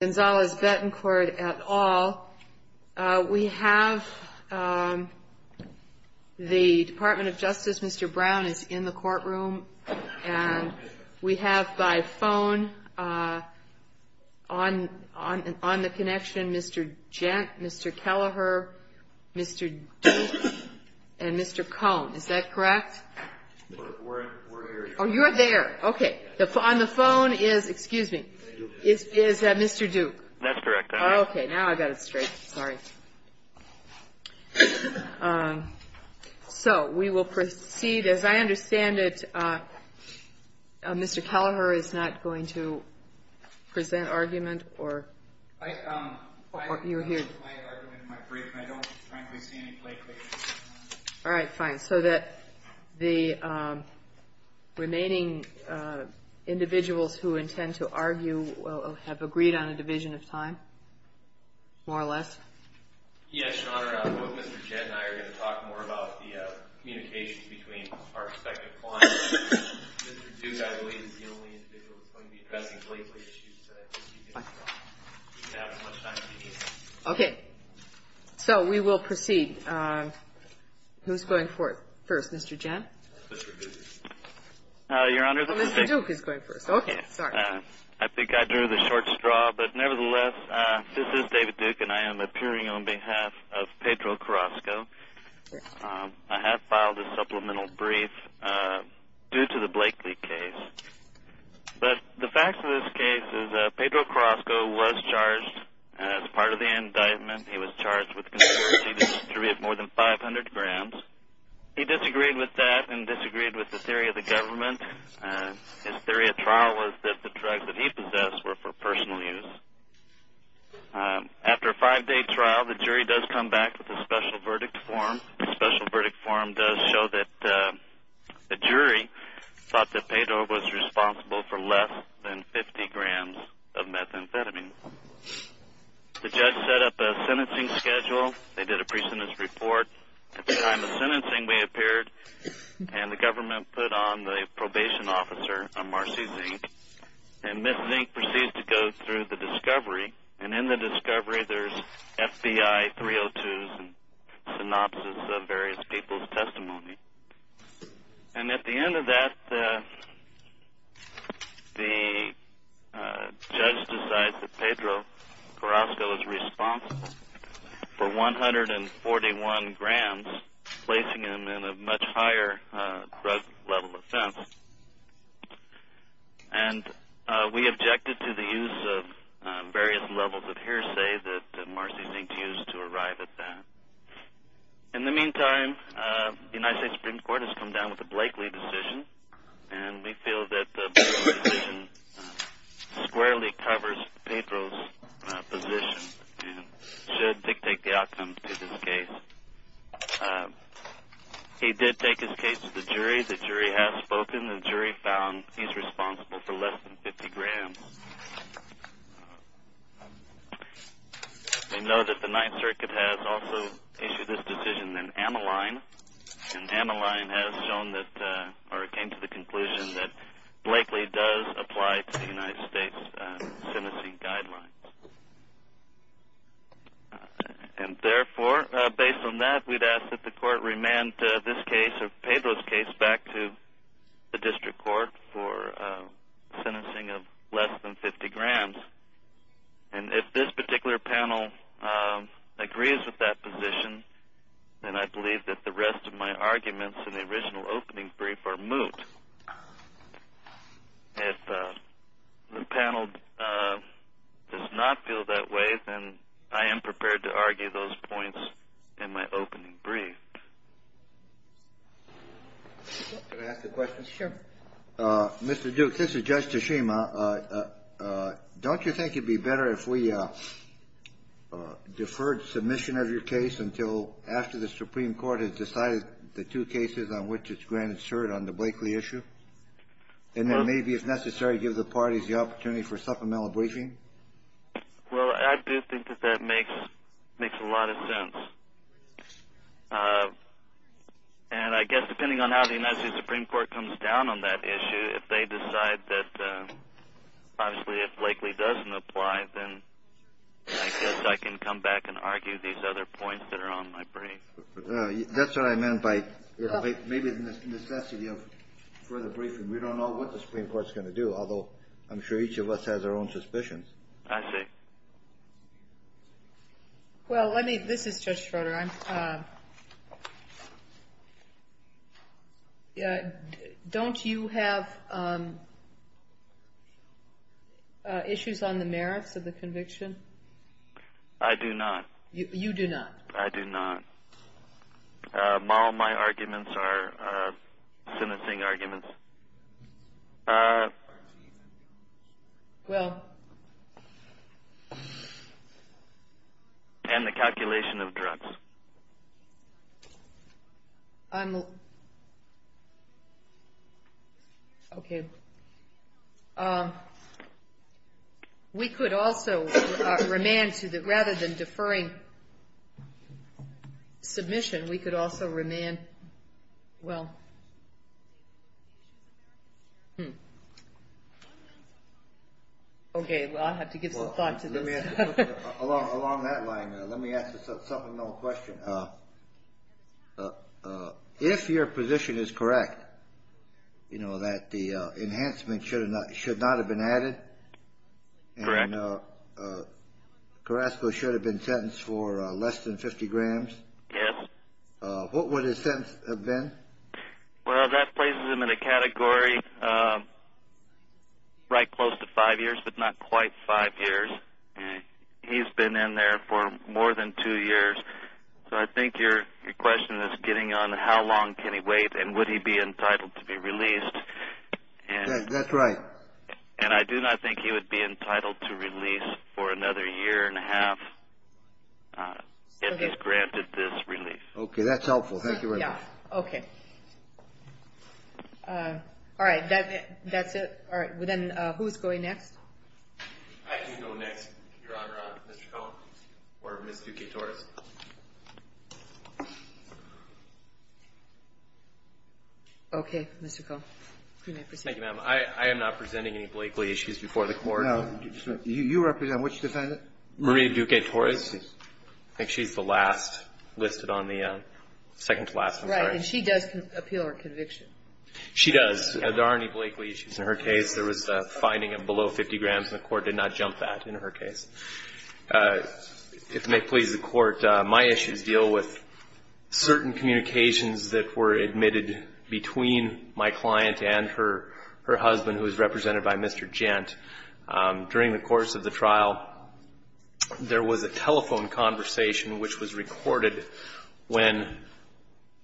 at all. We have the Department of Justice, Mr. Brown, is in the courtroom. And we have by phone, on the connection, Mr. Gent, Mr. Kelleher, Mr. Duke, and Mr. Cohn. Is that correct? We're here. Oh, you're there. Okay. On the phone is, excuse me, is that Mr. Duke? That's correct. Okay. Now I got it straight. Sorry. So we will proceed. As I understand it, Mr. Kelleher is not going to present argument or... My argument might break, but I don't, frankly, see any blatant... All right, fine. So that the remaining individuals who intend to argue will have agreed on a division of time, more or less? Yes, Your Honor. Both Mr. Gent and I are going to talk more about the communications between our respective clients. Mr. Duke, I believe, is the only individual that's going to be addressing blatant issues. Okay. So we will proceed. Who's going first, Mr. Gent? Mr. Duke is going first. Okay. Sorry. I think I drew the short straw, but nevertheless, this is David Duke, and I am appearing on behalf of Pedro Carrasco. I have filed a supplemental brief due to the Blakely case, but the fact of this case is that Pedro Carrasco was charged as part of the indictment. He was charged with conspiracy to distribute more than 500 grams. He disagreed with that and disagreed with the theory of the government. His theory at trial was that the drugs that he possessed were for personal use. After a five-day trial, the jury does come back with a special verdict form. The special verdict form does show that the jury thought that Pedro was responsible for less than 50 grams of methamphetamine. The judge set up a sentencing schedule. They did a pre-sentence report. At the time of sentencing, we appeared, and the government put on the probation officer, a Marcy Zink, and Ms. Zink proceeds to go through the discovery, and in the discovery, there's FBI 302s and synopses of various people's testimony. At the end of that, the judge decides that Pedro Carrasco is responsible for 141 grams, placing him in a much higher drug-level offense, and we objected to the use of various levels of hearsay that Marcy Zink used to arrive at that. In the meantime, the United States Supreme Court has come down with a Blakeley decision, and we feel that the Blakeley decision squarely covers Pedro's position and should dictate the outcome to this case. He did take his case to the jury. The jury has spoken. The jury found he's responsible for less than 50 grams. We know that the Ninth Circuit has also issued this decision, and Ameline has shown that, or came to the conclusion, that Blakeley does apply to the United States sentencing guidelines. And therefore, based on that, we'd ask that the court remand this case, or Pedro's case, back to the district court for sentencing of less than 50 grams, and if this particular panel agrees with that position, then I believe that the rest of my arguments in the original opening brief are moot. If the panel does not feel that way, then I am prepared to argue those points in my opening brief. Can I ask a question? Sure. Mr. Duke, this is Judge Tashima. Don't you think it'd be better if we deferred submission of your case until after the Supreme Court has decided the two cases on which it's granted cert on the Blakeley issue? And then maybe, if necessary, give the parties the opportunity for supplemental briefing? Well, I do think that that makes a lot of sense. And I guess, depending on how the United States Supreme Court comes down on that issue, if they decide that, obviously, if Blakeley doesn't apply, then I guess I can come back and argue these other points that are on my brief. That's what I meant by maybe the necessity of further briefing. We don't know what the Supreme Court's going to do, although I'm sure each of us has our own suspicions. I see. Well, let me – this is Judge Schroeder. Don't you have issues on the merits of the conviction? I do not. You do not. I do not. My arguments are sentencing arguments. Well – And the calculation of drugs. I'm – okay. We could also remand to the – rather than deferring submission, we could also remand – well – okay, I'll have to give some thought to this. Along that line, let me ask a supplemental question. If your position is correct, you know, that the enhancement should not have been added? And Carrasco should have been sentenced for less than 50 grams? Yes. What would his sentence have been? Well, that places him in a category right close to five years, but not quite five years. He's been in there for more than two years, so I think your question is getting on how long can he wait and would he be entitled to be released? That's right. And I do not think he would be entitled to release for another year and a half if he's granted this relief. Okay, that's helpful. Thank you very much. Okay. All right. That's it. All right. Then who's going next? I can go next, Your Honor, on Mr. Cohn or Ms. Duque-Torres. Okay, Mr. Cohn. You may proceed. Thank you, ma'am. I am not presenting any Blakely issues before the Court. No. You represent which defendant? Maria Duque-Torres. Yes, please. I think she's the last listed on the second-to-last, I'm sorry. Right. And she does appeal her conviction. She does. There aren't any Blakely issues in her case. There was a finding of below 50 grams, and the Court did not jump that in her case. If it may please the Court, my issues deal with certain communications that were admitted between my client and her husband, who is represented by Mr. Gent. During the course of the trial, there was a telephone conversation which was recorded when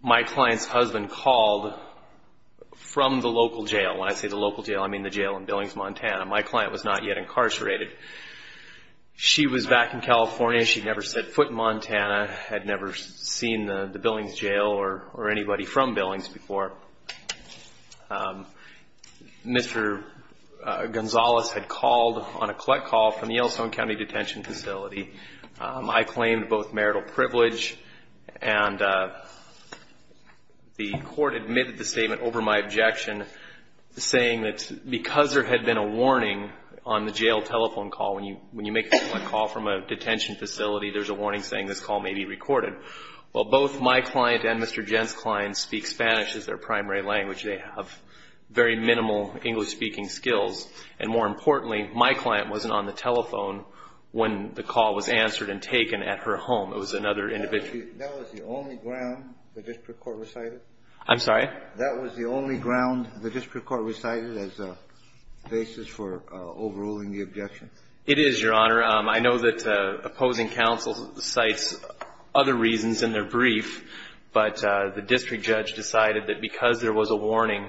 my client's husband called from the local jail. When I say the local jail, I mean the jail in Billings, Montana. My client was not yet incarcerated. She was back in California. She'd never set foot in Montana, had never seen the Billings jail or anybody from Billings before. Mr. Gonzales had called on a collect call from the Yellowstone County Detention Facility. I claimed both marital privilege, and the Court admitted the statement over my objection, saying that because there had been a warning on the jail telephone call, when you make a collect call from a detention facility, there's a warning saying this call may be recorded. Well, both my client and Mr. Gent's client speak Spanish as their primary language. They have very minimal English-speaking skills. And more importantly, my client wasn't on the telephone when the call was answered and taken at her home. It was another individual. Kennedy. That was the only ground the district court recited? I'm sorry? That was the only ground the district court recited as a basis for overruling the objection? It is, Your Honor. I know that opposing counsel cites other reasons in their brief, but the district judge decided that because there was a warning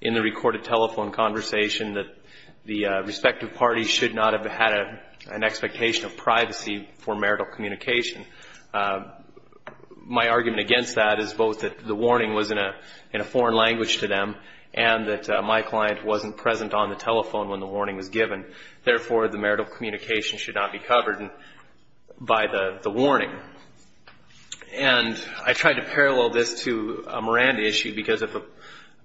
in the recorded telephone conversation, that the respective parties should not have had an expectation of privacy for marital communication. My argument against that is both that the warning was in a foreign language to them and that my client wasn't present on the telephone when the warning was given. Therefore, the marital communication should not be covered by the warning. And I tried to parallel this to a Miranda issue, because if a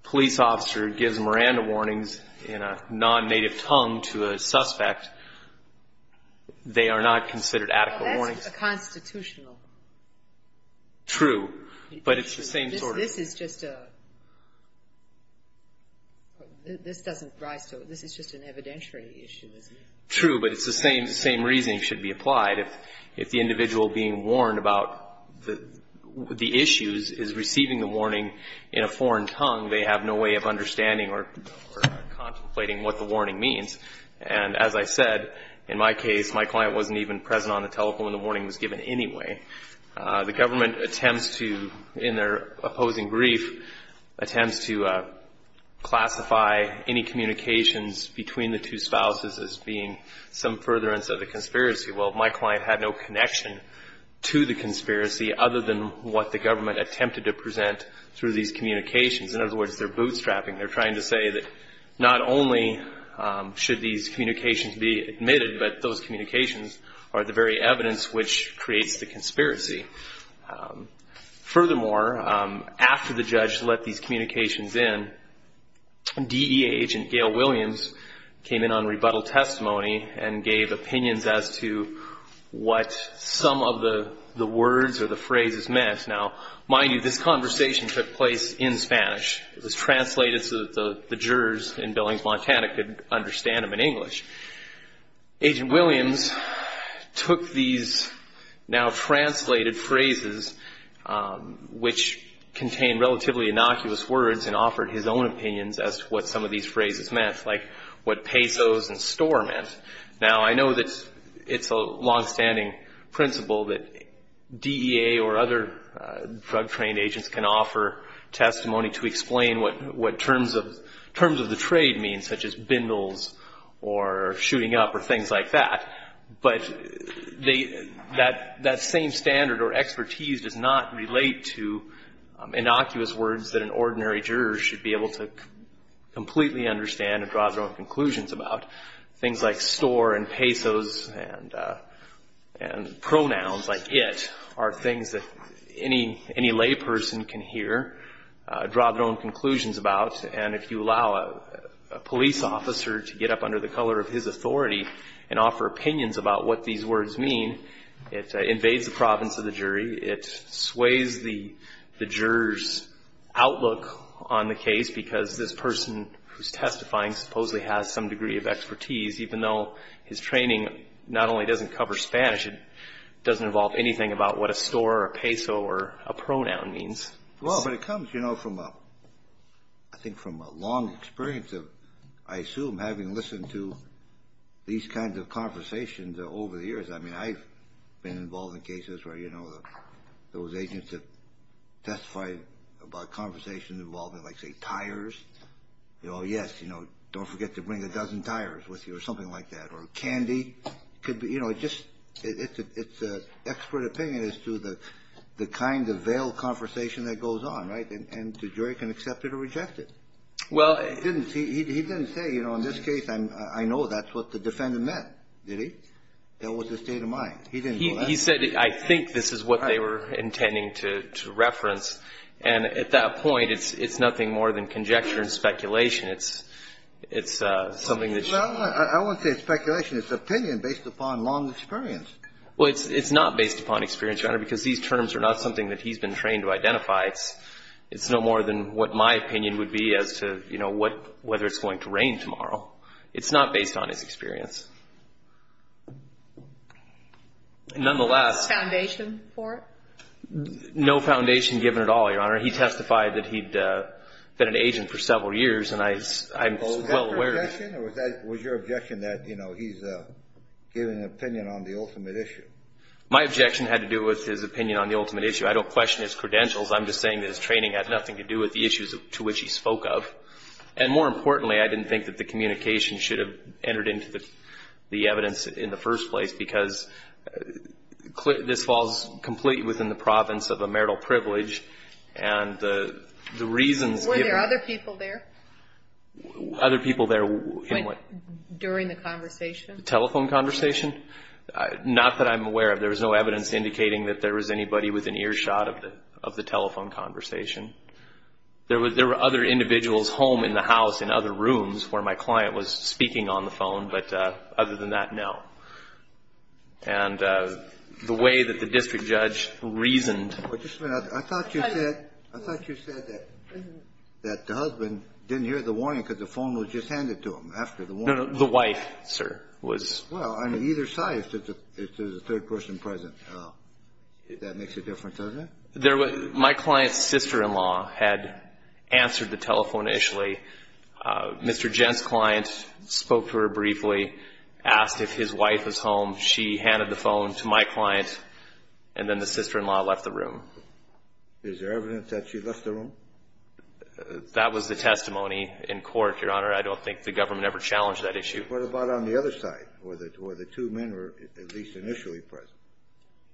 police officer gives Miranda warnings in a non-native tongue to a suspect, they are not considered adequate warnings. Well, that's a constitutional issue. True. But it's the same sort of issue. This is just a – this doesn't rise to – this is just an evidentiary issue, isn't it? True, but it's the same – the same reasoning should be applied. If the individual being warned about the issues is receiving the warning in a foreign tongue, they have no way of understanding or contemplating what the warning means. And as I said, in my case, my client wasn't even present on the telephone when the warning was given anyway. The government attempts to, in their opposing brief, attempts to classify any communications between the two spouses as being some furtherance of the conspiracy. Well, my client had no connection to the conspiracy other than what the government attempted to present through these communications. In other words, they're bootstrapping. They're trying to say that not only should these communications be admitted, but those communications are the very evidence which creates the conspiracy. Furthermore, after the judge let these communications in, DEA agent Gail Williams came in on rebuttal testimony and gave opinions as to what some of the words or the phrases meant. Now, mind you, this conversation took place in Spanish. It was translated so that the jurors in Billings, Montana, could understand them in English. Agent Williams took these now translated phrases, which contained relatively innocuous words, and offered his own opinions as to what some of these phrases meant, like what pesos and store meant. Now, I know that it's a longstanding principle that DEA or other drug-trained agents can offer testimony to explain what terms of the trade mean, such as bindles or shooting up or things like that. But that same standard or expertise does not relate to innocuous words that an ordinary juror should be able to completely understand and draw their own conclusions about. Things like store and pesos and pronouns like it are things that any layperson can hear, draw their own conclusions about. And if you allow a police officer to get up under the color of his authority and offer opinions about what these words mean, it invades the province of the jury. It sways the juror's outlook on the case because this person who's testifying supposedly has some degree of expertise, even though his training not only doesn't cover Spanish, it doesn't involve anything about what a store or a peso or a pronoun means. Well, but it comes, you know, I think from a long experience of, I assume, having listened to these kinds of conversations over the years. I mean, I've been involved in cases where, you know, those agents have testified about conversations involving, like, say, tires. Oh, yes, you know, don't forget to bring a dozen tires with you or something like that. Or candy. You know, it's an expert opinion as to the kind of veiled conversation that goes on, right? And the jury can accept it or reject it. He didn't say, you know, in this case, I know that's what the defendant meant, did he? That was his state of mind. He didn't do that. He said, I think this is what they were intending to reference. And at that point, it's nothing more than conjecture and speculation. It's something that's you know. Well, I wouldn't say it's speculation. It's opinion based upon long experience. Well, it's not based upon experience, Your Honor, because these terms are not something that he's been trained to identify. It's no more than what my opinion would be as to, you know, whether it's going to rain tomorrow. It's not based on his experience. Nonetheless. No foundation for it? No foundation given at all, Your Honor. He testified that he'd been an agent for several years, and I'm well aware of that. Was that your objection? Or was your objection that, you know, he's giving an opinion on the ultimate issue? My objection had to do with his opinion on the ultimate issue. I don't question his credentials. I'm just saying that his training had nothing to do with the issues to which he spoke of. And more importantly, I didn't think that the communication should have entered into the evidence in the first place, because this falls completely within the province of a marital privilege, and the reasons given. Were there other people there? Other people there in what? During the conversation? Telephone conversation? Not that I'm aware of. There was no evidence indicating that there was anybody with an earshot of the telephone conversation. There were other individuals home in the house in other rooms where my client was speaking on the phone, but other than that, no. And the way that the district judge reasoned. I thought you said that the husband didn't hear the warning because the phone was just handed to him after the warning. No, no, the wife, sir, was. Well, on either side, if there's a third person present, that makes a difference, doesn't it? My client's sister-in-law had answered the telephone initially. Mr. Gent's client spoke to her briefly, asked if his wife was home. She handed the phone to my client, and then the sister-in-law left the room. Is there evidence that she left the room? That was the testimony in court, Your Honor. I don't think the government ever challenged that issue. What about on the other side, where the two men were at least initially present?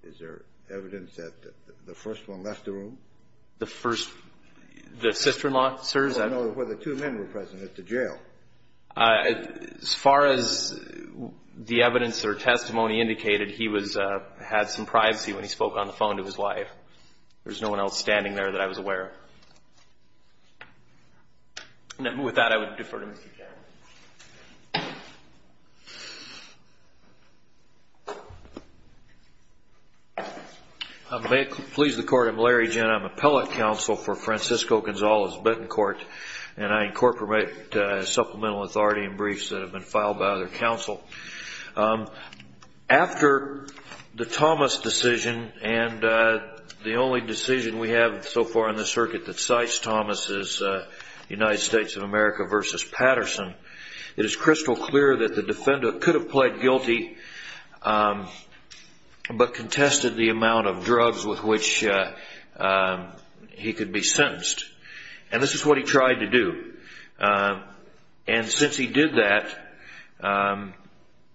Is there evidence that the first one left the room? The first? The sister-in-law, sir? I don't know whether two men were present at the jail. As far as the evidence or testimony indicated, he had some privacy when he spoke on the phone to his wife. There was no one else standing there that I was aware of. With that, I would defer to Mr. Gent. May it please the Court, I'm Larry Gent. I'm appellate counsel for Francisco Gonzalez Betancourt, and I incorporate supplemental authority in briefs that have been filed by other counsel. After the Thomas decision, and the only decision we have so far in the circuit that cites Thomas is United States of America v. Patterson, it is crystal clear that the defendant could have pled guilty but contested the amount of drugs with which he could be sentenced. And this is what he tried to do. And since he did that,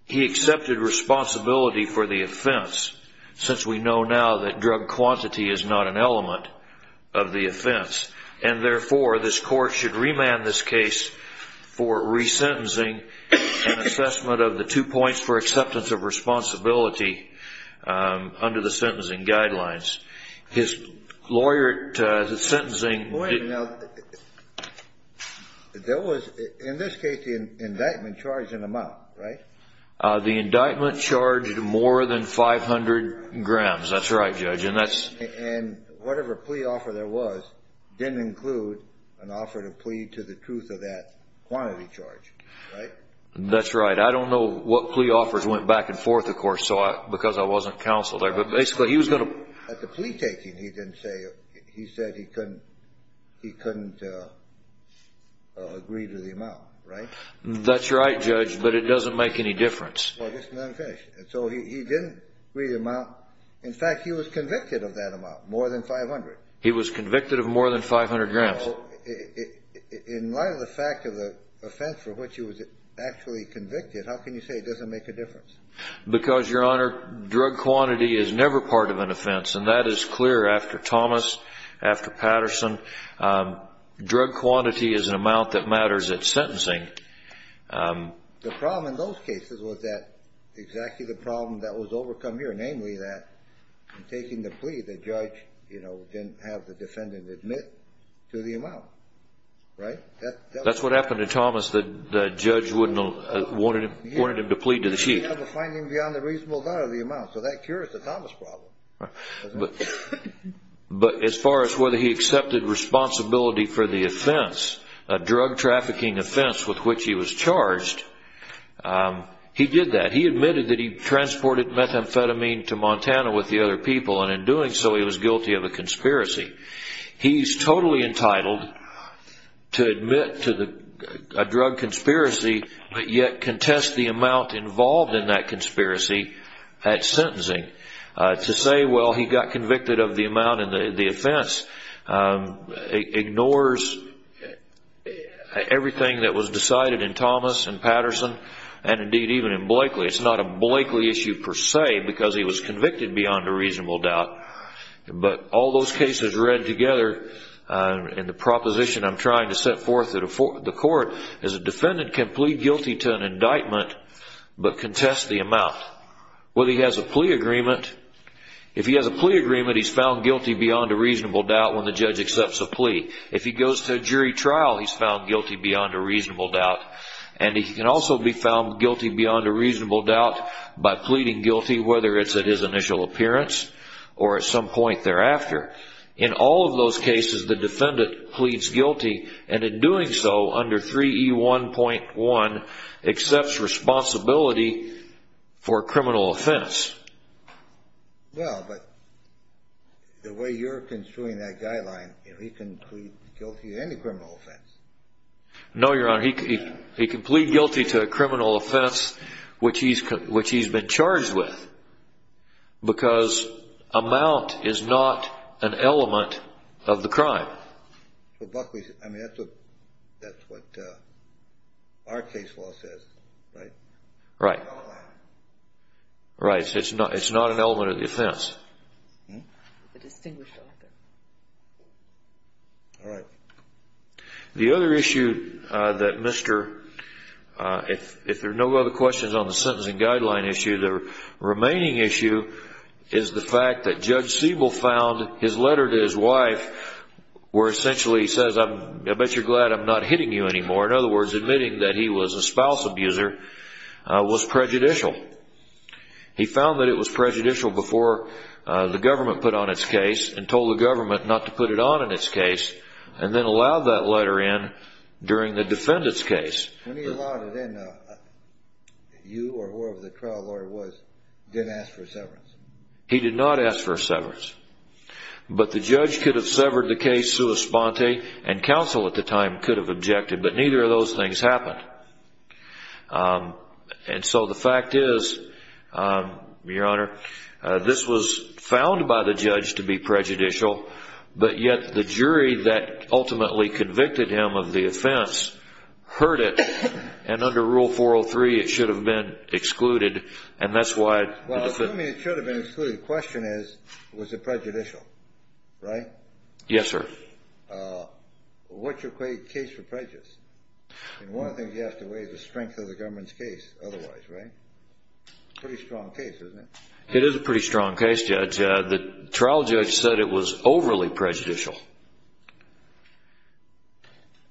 he accepted responsibility for the offense, since we know now that drug quantity is not an element of the offense. And therefore, this Court should remand this case for resentencing and assessment of the two points for acceptance of responsibility under the sentencing guidelines. His lawyer sentencing Wait a minute. In this case, the indictment charged an amount, right? The indictment charged more than 500 grams. That's right, Judge. And whatever plea offer there was didn't include an offer to plead to the truth of that quantity charge, right? That's right. I don't know what plea offers went back and forth, of course, because I wasn't counsel there. But basically, he was going to At the plea taking, he didn't say, he said he couldn't agree to the amount, right? That's right, Judge, but it doesn't make any difference. So he didn't agree to the amount. In fact, he was convicted of that amount, more than 500. He was convicted of more than 500 grams. In light of the fact of the offense for which he was actually convicted, how can you say it doesn't make a difference? Because, Your Honor, drug quantity is never part of an offense, and that is clear after Thomas, after Patterson. Drug quantity is an amount that matters at sentencing. The problem in those cases was exactly the problem that was overcome here, namely that in taking the plea, the judge didn't have the defendant admit to the amount, right? That's what happened to Thomas. The judge wanted him to plead to the truth. He had a finding beyond the reasonable doubt of the amount, so that cures the Thomas problem. But as far as whether he accepted responsibility for the offense, a drug trafficking offense with which he was charged, he did that. He admitted that he transported methamphetamine to Montana with the other people, and in doing so, he was guilty of a conspiracy. He's totally entitled to admit to a drug conspiracy, but yet contest the amount involved in that conspiracy at sentencing. To say, well, he got convicted of the amount in the offense ignores everything that was decided in Thomas and Patterson and, indeed, even in Blakely. It's not a Blakely issue per se, because he was convicted beyond a reasonable doubt. But all those cases read together in the proposition I'm trying to set forth that the court, as a defendant, can plead guilty to an indictment but contest the amount. Whether he has a plea agreement. If he has a plea agreement, he's found guilty beyond a reasonable doubt when the judge accepts a plea. If he goes to jury trial, he's found guilty beyond a reasonable doubt. And he can also be found guilty beyond a reasonable doubt by pleading guilty, whether it's at his initial appearance or at some point thereafter. In all of those cases, the defendant pleads guilty, and in doing so, under 3E1.1, accepts responsibility for a criminal offense. Well, but the way you're construing that guideline, he can plead guilty to any criminal offense. No, Your Honor, he can plead guilty to a criminal offense which he's been charged with because amount is not an element of the crime. But Buckley, I mean, that's what our case law says, right? Right. Right, so it's not an element of the offense. Hmm? The distinguished author. All right. The other issue that Mr., if there are no other questions on the sentencing guideline issue, the remaining issue is the fact that Judge Siebel found his letter to his wife where essentially he says, I bet you're glad I'm not hitting you anymore. In other words, admitting that he was a spouse abuser was prejudicial. He found that it was prejudicial before the government put on its case and told the government not to put it on in its case. And then allowed that letter in during the defendant's case. When he allowed it in, you or whoever the trial lawyer was didn't ask for a severance. He did not ask for a severance. But the judge could have severed the case sua sponte and counsel at the time could have objected, but neither of those things happened. And so the fact is, Your Honor, this was found by the judge to be prejudicial, but yet the jury that ultimately convicted him of the offense heard it. And under Rule 403, it should have been excluded. And that's why. Well, assuming it should have been excluded, the question is, was it prejudicial? Right? Yes, sir. What's your case for prejudice? One of the things you have to weigh is the strength of the government's case otherwise, right? Pretty strong case, isn't it? It is a pretty strong case, Judge. The trial judge said it was overly prejudicial.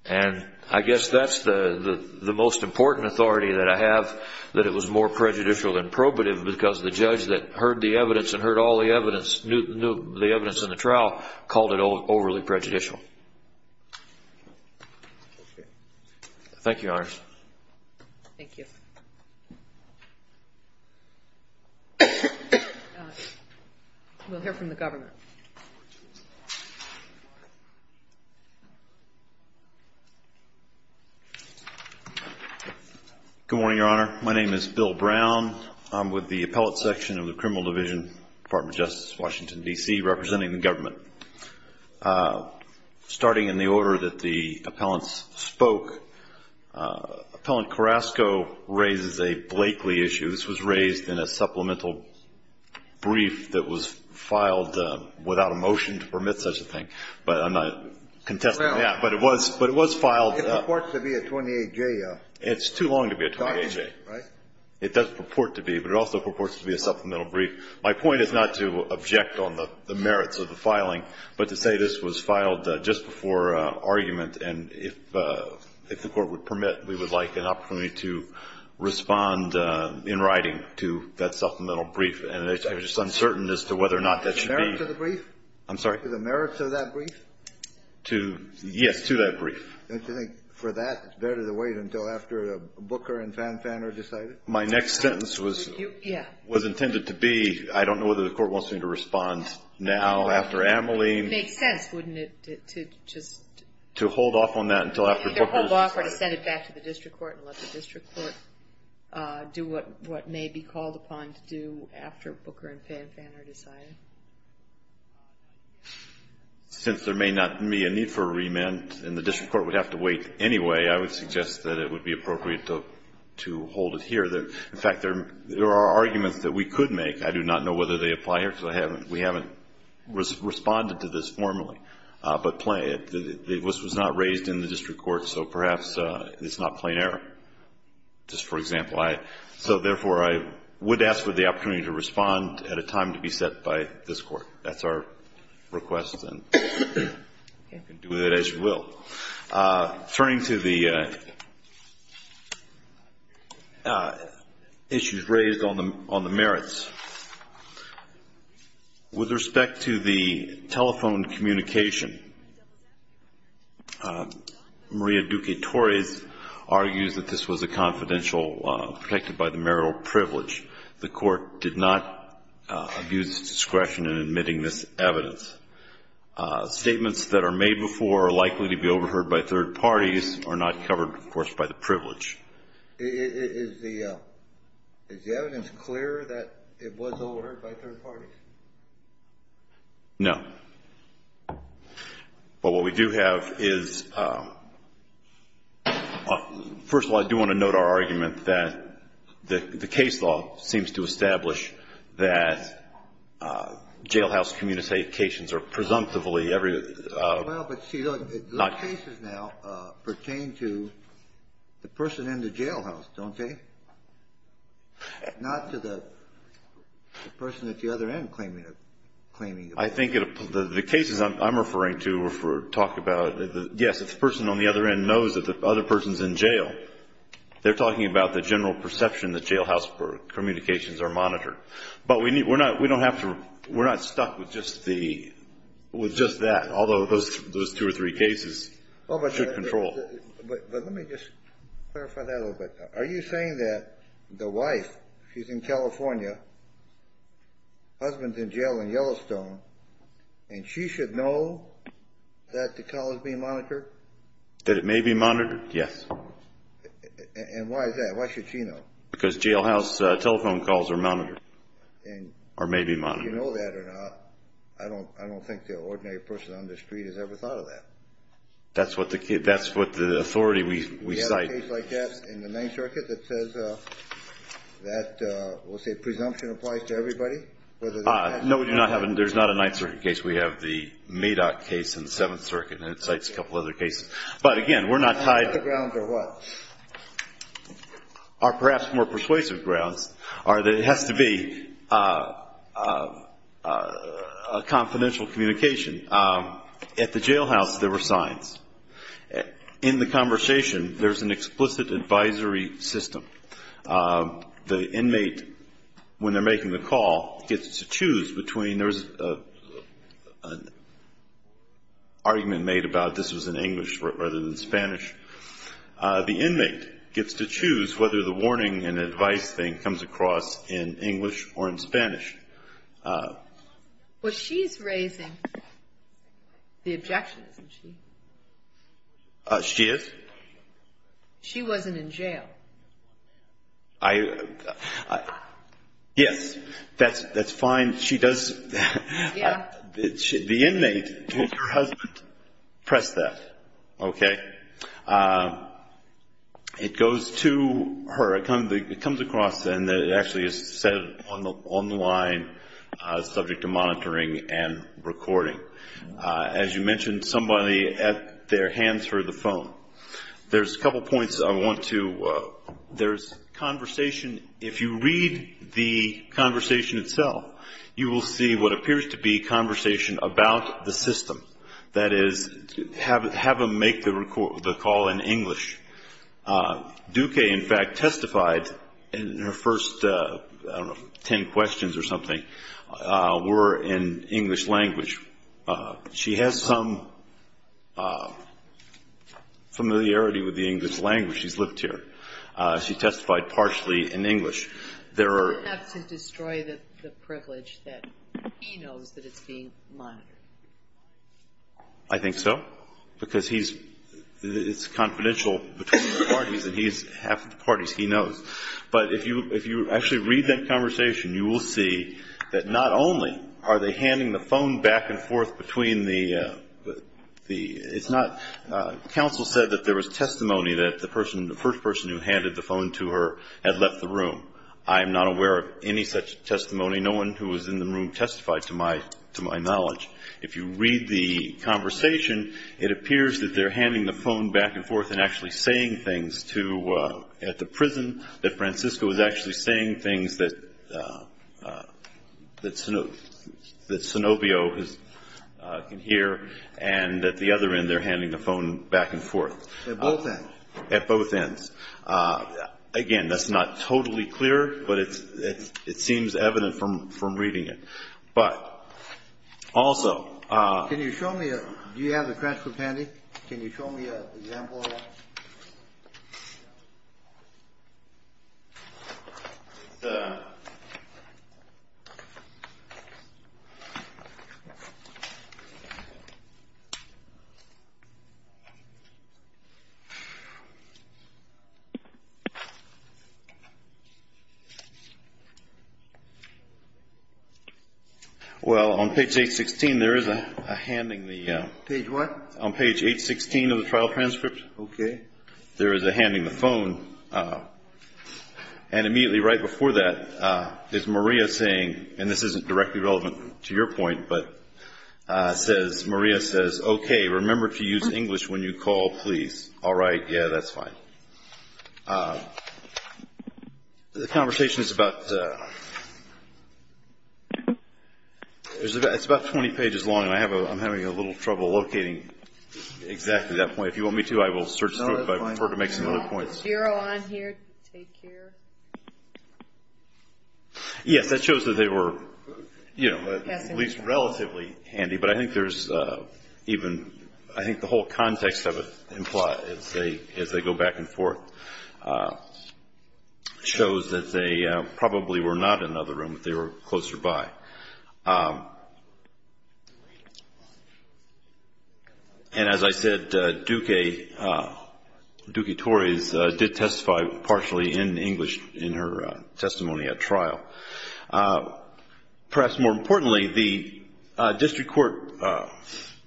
And I guess that's the most important authority that I have, that it was more prejudicial than probative, because the judge that heard the evidence and heard all the evidence, knew the evidence in the trial, called it overly prejudicial. Thank you, Your Honor. Thank you. We'll hear from the government. Good morning, Your Honor. My name is Bill Brown. I'm with the Appellate Section of the Criminal Division, Department of Justice, Washington, D.C., representing the government. Starting in the order that the appellants spoke, Appellant Carrasco raises a Blakeley issue. This was raised in a supplemental brief that was filed without a motion to permit such a thing. But I'm not contesting that. But it was filed. It purports to be a 28-J document, right? It's too long to be a 28-J. It does purport to be, but it also purports to be a supplemental brief. My point is not to object on the merits of the filing, but to say this was filed just before argument. And if the Court would permit, we would like an opportunity to respond in writing to that supplemental brief. And I'm just uncertain as to whether or not that should be. To the merits of the brief? I'm sorry? To the merits of that brief? To, yes, to that brief. Don't you think for that, it's better to wait until after Booker and Fanfan are decided? My next sentence was intended to be, I don't know whether the Court wants me to respond now, after Amelie. It makes sense, wouldn't it, to just... To hold off on that until after Booker... Either hold off or to send it back to the district court and let the district court do what may be called upon to do after Booker and Fanfan are decided. Since there may not be a need for a remand and the district court would have to wait anyway, I would suggest that it would be appropriate to hold it here. In fact, there are arguments that we could make. I do not know whether they apply here because we haven't responded to this formally. But this was not raised in the district court, so perhaps it's not plain error. Just for example, I... So, therefore, I would ask for the opportunity to respond at a time to be set by this Court. That's our request. And we can do it as you will. Turning to the issues raised on the merits, with respect to the telephone communication, Maria Duque-Torres argues that this was a confidential, protected by the marital privilege. The Court did not abuse discretion in admitting this evidence. Statements that are made before are likely to be overheard by third parties are not covered, of course, by the privilege. Is the evidence clear that it was overheard by third parties? No. Well, what we do have is... First of all, I do want to note our argument that the case law seems to establish that jailhouse communications are presumptively... Well, but see, those cases now pertain to the person in the jailhouse, don't they? Not to the person at the other end claiming... I think the cases I'm referring to talk about... Yes, if the person on the other end knows that the other person's in jail, they're talking about the general perception that jailhouse communications are monitored. But we don't have to... We're not stuck with just that, although those two or three cases should control... But let me just clarify that a little bit. Are you saying that the wife, she's in California, husband's in jail in Yellowstone, and she should know that the call is being monitored? That it may be monitored? Yes. And why is that? Why should she know? Because jailhouse telephone calls are monitored or may be monitored. And do you know that or not? I don't think the ordinary person on the street has ever thought of that. That's what the authority we cite. Is there a case like that in the Ninth Circuit that says that, we'll say presumption applies to everybody? No, there's not a Ninth Circuit case. We have the Maydot case in the Seventh Circuit, and it cites a couple other cases. But, again, we're not tied... Are there grounds or what? Perhaps more persuasive grounds are that it has to be a confidential communication. At the jailhouse, there were signs. In the conversation, there's an explicit advisory system. The inmate, when they're making the call, gets to choose between... There was an argument made about this was in English rather than Spanish. The inmate gets to choose whether the warning and advice thing comes across in English or in Spanish. Well, she's raising the objection, isn't she? She is? She wasn't in jail. I... yes, that's fine. She does... Yeah. The inmate told her husband, press that, okay? It goes to her. It comes across, and it actually is said on the line, subject to monitoring and recording. As you mentioned, somebody at their hands heard the phone. There's a couple points I want to... There's conversation... If you read the conversation itself, you will see what appears to be conversation about the system. That is, have them make the call in English. Duque, in fact, testified in her first, I don't know, ten questions or something were in English language. She has some familiarity with the English language. She's lived here. She testified partially in English. There are... Does that have to destroy the privilege that he knows that it's being monitored? I think so, because he's... it's confidential between the parties, and he's half of the parties he knows. But if you actually read that conversation, you will see that not only are they handing the phone back and forth between the... it's not... Counsel said that there was testimony that the person, the first person who handed the phone to her had left the room. I am not aware of any such testimony. No one who was in the room testified, to my knowledge. If you read the conversation, it appears that they're handing the phone back and forth and actually saying things to... at the prison, that Francisco is actually saying things that... that Sinopio can hear. And at the other end, they're handing the phone back and forth. At both ends? At both ends. Again, that's not totally clear, but it seems evident from reading it. But also... Can you show me a... do you have the transcript handy? Can you show me an example of that? Well, on page 816, there is a handing the... Page what? On page 816 of the trial transcript. Okay. There is a handing the phone. And immediately right before that is Maria saying, and this isn't directly relevant to your point, but says... Maria says, okay, remember to use English when you call, please. All right. Yeah, that's fine. The conversation is about... It's about 20 pages long, and I'm having a little trouble locating exactly that point. If you want me to, I will search through it, but I prefer to make some other points. Zero on here, take here. Yes, that shows that they were, you know, at least relatively handy. But I think there's even... I think the whole context of it implies, as they go back and forth, shows that they probably were not in another room, but they were closer by. And as I said, Duque... Duque-Torres did testify partially in English in her testimony at trial. Perhaps more importantly, the district court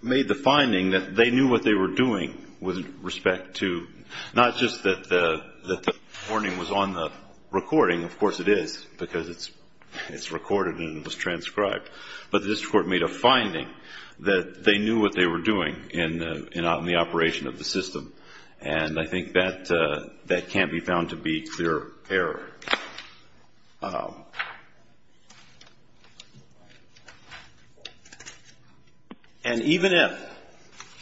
made the finding that they knew what they were doing with respect to... not just that the recording was on the recording. Of course it is, because it's recorded and it was transcribed. But the district court made a finding that they knew what they were doing in the operation of the system. And I think that can't be found to be clear error. And even if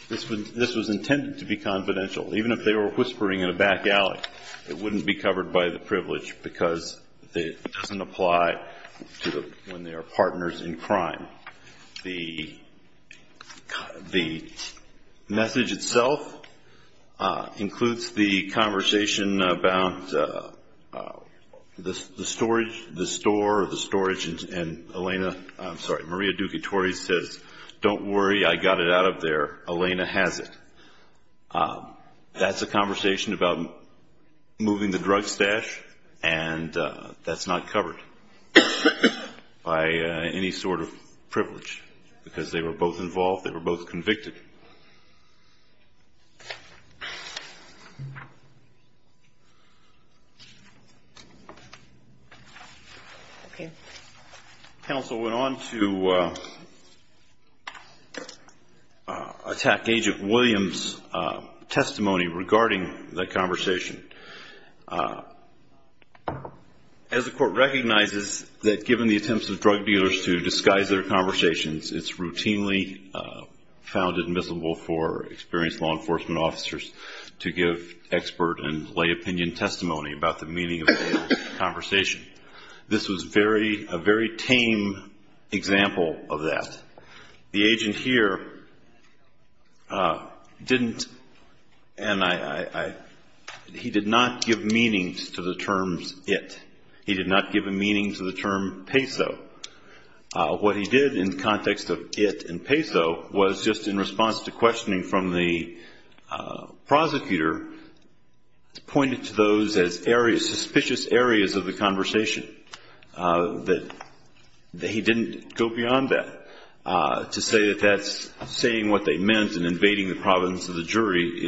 this was intended to be confidential, even if they were whispering in a back alley, it wouldn't be covered by the privilege, because it doesn't apply when they are partners in crime. The message itself includes the conversation about the storage, the store or the storage, and Elena... I'm sorry, Maria Duque-Torres says, don't worry, I got it out of there. Elena has it. That's a conversation about moving the drug stash and that's not covered by any sort of privilege, because they were both involved, they were both convicted. Counsel went on to attack Agent Williams' testimony regarding that conversation. As the court recognizes that given the attempts of drug dealers to disguise their conversations, it's routinely found in most cases that it's not true. It's not admissible for experienced law enforcement officers to give expert and lay opinion testimony about the meaning of a conversation. This was a very tame example of that. The agent here didn't... and he did not give meaning to the terms it. He did not give a meaning to the term peso. What he did in the context of it and peso was just in response to questioning from the prosecutor, pointed to those as areas, suspicious areas of the conversation. He didn't go beyond that to say that that's saying what they meant and invading the providence of the jury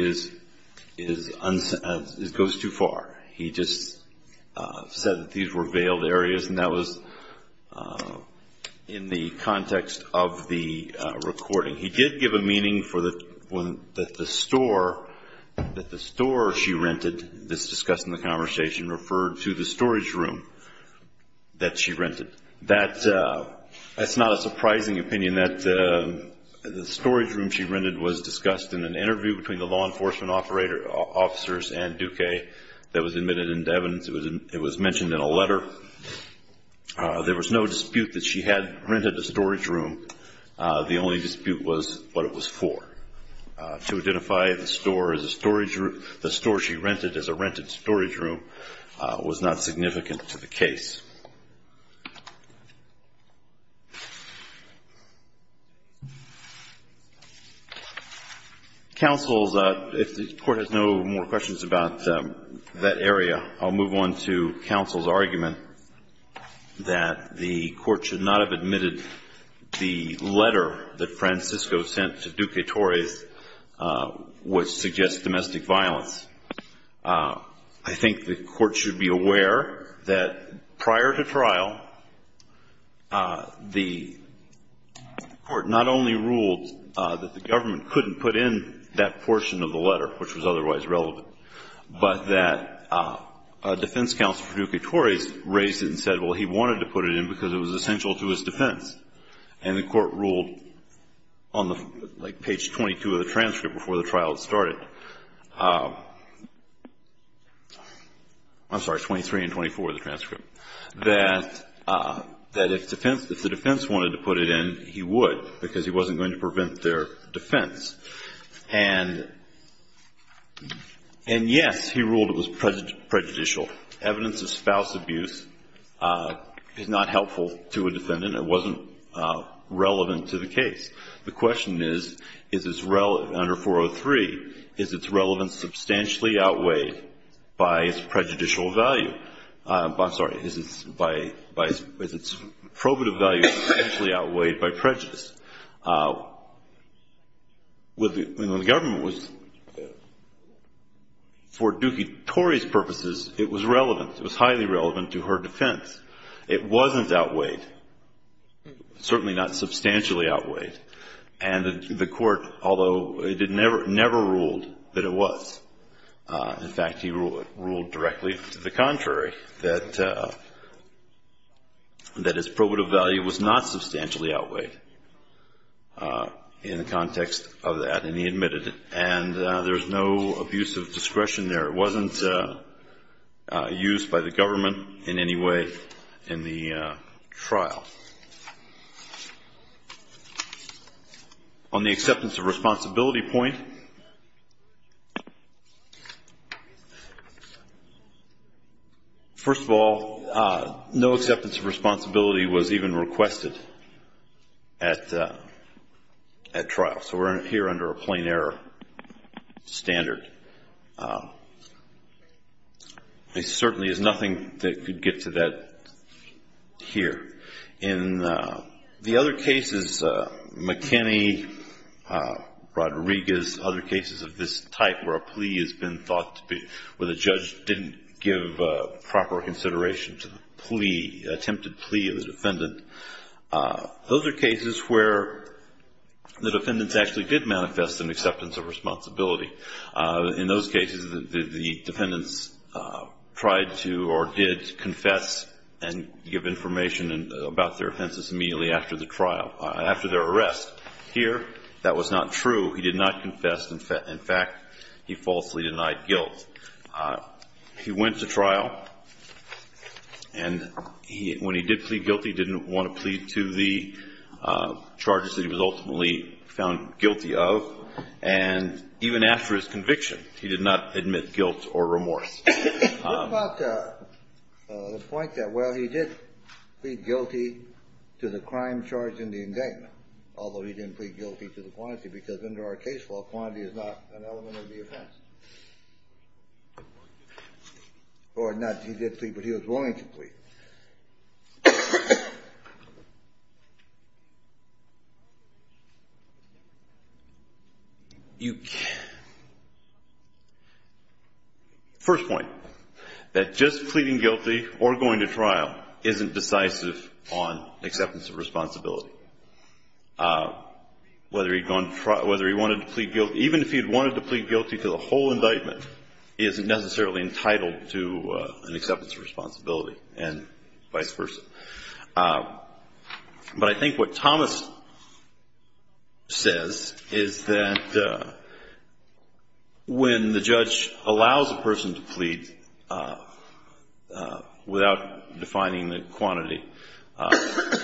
goes too far. He just said that these were veiled areas and that was in the context of the recording. He did give a meaning that the store she rented, this discussed in the conversation, referred to the storage room that she rented. That's not a surprising opinion that the storage room she rented was discussed in an interview between the law enforcement officers and Duque that was admitted into evidence. It was mentioned in a letter. There was no dispute that she had rented a storage room. The only dispute was what it was for. To identify the store she rented as a rented storage room was not significant to the case. Counsel, if the Court has no more questions about that area, I'll move on to counsel's argument that the Court should not have admitted the letter that Francisco sent to Duque Torres, which suggests domestic violence. I think the Court should be aware that prior to trial, the Court not only ruled that the government couldn't put in that portion of the letter, which was otherwise relevant, but that a defense counsel for Duque Torres raised it and said, well, he wanted to put it in because it was essential to his defense. And the Court ruled on like page 22 of the transcript before the trial had started, I'm sorry, 23 and 24 of the transcript, that if the defense wanted to put it in, he would because he wasn't going to prevent their defense. And yes, he ruled it was prejudicial. Evidence of spouse abuse is not helpful to a defendant. It wasn't relevant to the case. The question is, under 403, is its relevance substantially outweighed by its prejudicial value? I'm sorry, is its probative value substantially outweighed by prejudice? When the government was, for Duque Torres' purposes, it was relevant. It was highly relevant to her defense. It wasn't outweighed, certainly not substantially outweighed. And the Court, although it never ruled that it was, in fact, he ruled directly to the contrary, that its probative value was not substantially outweighed in the context of that. And he admitted it. And there's no abuse of discretion there. It wasn't used by the government in any way in the trial. On the acceptance of responsibility point, first of all, no acceptance of responsibility was even requested at trial. So we're here under a plain error standard. There certainly is nothing that could get to that here. In the other cases, McKinney, Rodriguez, other cases of this type where a plea has been thought to be, where the judge didn't give proper consideration to the plea, attempted plea of the defendant, those are cases where the defendants actually did manifest an acceptance of responsibility. In those cases, the defendants tried to or did confess and give information about their offenses immediately after the trial, after their arrest. Here, that was not true. He did not confess. In fact, he falsely denied guilt. He went to trial, and when he did plead guilty, he didn't want to plead to the charges that he was ultimately found guilty of. And even after his conviction, he did not admit guilt or remorse. What about the point that, well, he did plead guilty to the crime charged in the indictment, although he didn't plead guilty to the quantity? Because under our case law, quantity is not an element of the offense. Or not he did plead, but he was willing to plead. First point, that just pleading guilty or going to trial isn't decisive on acceptance of responsibility. Whether he wanted to plead guilty, even if he had wanted to plead guilty to the whole indictment, he isn't necessarily entitled to an acceptance of responsibility and vice versa. But I think what Thomas says is that when the judge allows a person to plead, without defining the quantity, that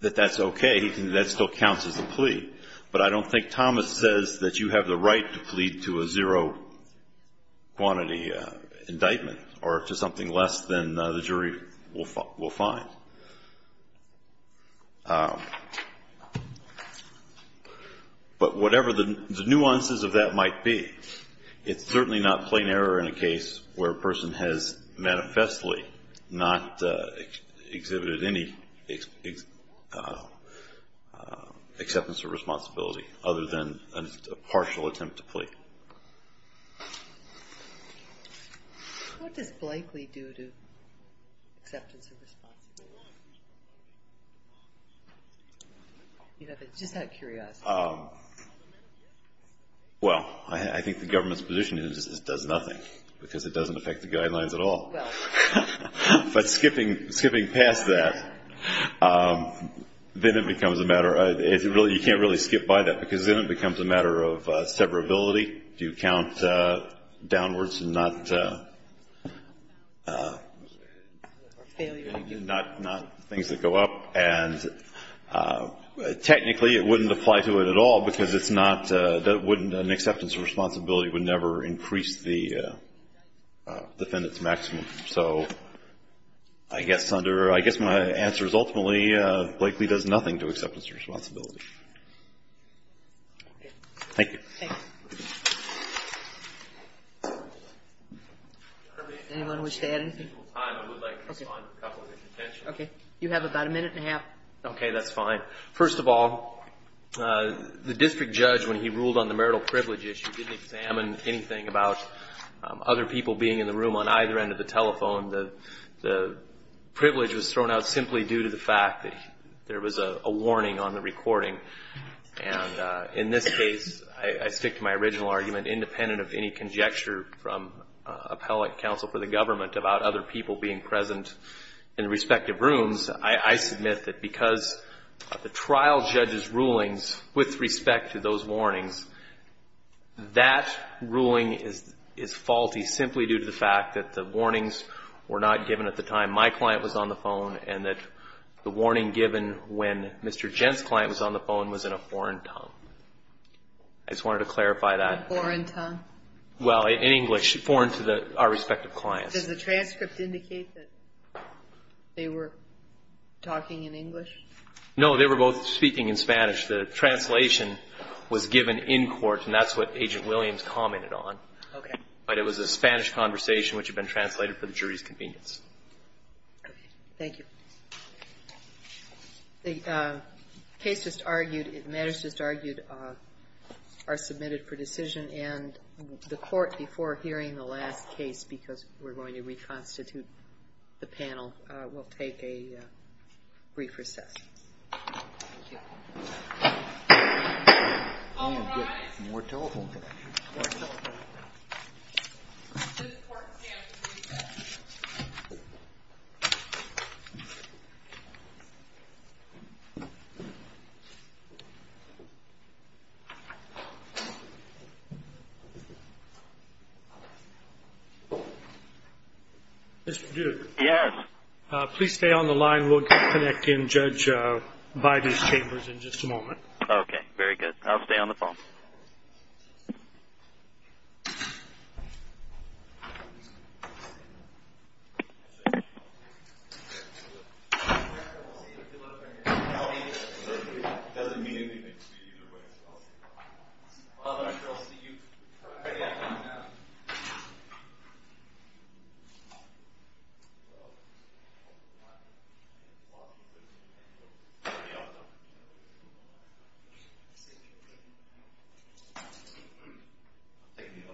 that's okay. That still counts as a plea. But I don't think Thomas says that you have the right to plead to a zero-quantity indictment or to something less than the jury will find. But whatever the nuances of that might be, it's certainly not plain error in a case where a person has manifestly not exhibited any acceptance of responsibility other than a partial attempt to plead. What does Blakely do to acceptance of responsibility? Just out of curiosity. Well, I think the government's position is it does nothing, because it doesn't affect the guidelines at all. But skipping past that, then it becomes a matter of, you can't really skip by that, because then it becomes a matter of severability. Do you count downwards and not things that go up? And technically, it wouldn't apply to it at all, because it's not, an acceptance of responsibility would never increase the defendant's maximum. So I guess my answer is ultimately, Blakely does nothing to acceptance of responsibility. Thank you. Anyone wish to add anything? You have about a minute and a half. Okay, that's fine. First of all, the district judge, when he ruled on the marital privilege issue, didn't examine anything about other people being in the room on either end of the telephone. The privilege was thrown out simply due to the fact that there was a warning on the recording. And in this case, I stick to my original argument, independent of any conjecture from appellate counsel for the government about other people being present in the respective rooms. I submit that because of the trial judge's rulings with respect to those warnings, that ruling is faulty simply due to the fact that the warnings were not given at the time my client was on the phone and that the warning given when Mr. Gent's client was on the phone was in a foreign tongue. I just wanted to clarify that. A foreign tongue? Well, in English, foreign to our respective clients. Does the transcript indicate that they were talking in English? No, they were both speaking in Spanish. The translation was given in court, and that's what Agent Williams commented on. Okay. But it was a Spanish conversation which had been translated for the jury's convenience. Okay. Thank you. The case just argued, matters just argued, are submitted for decision. And the court, before hearing the last case, because we're going to reconstitute the panel, will take a brief recess. Thank you. All rise. More telephone today. More telephone. Mr. Duke. Yes. Please stay on the line. We'll connect in Judge Bide's chambers in just a moment. Okay, very good. I'll stay on the phone. Thank you. Thank you. I've got a hundred and something. I am Washington Sun. I struggle with it. Thank you.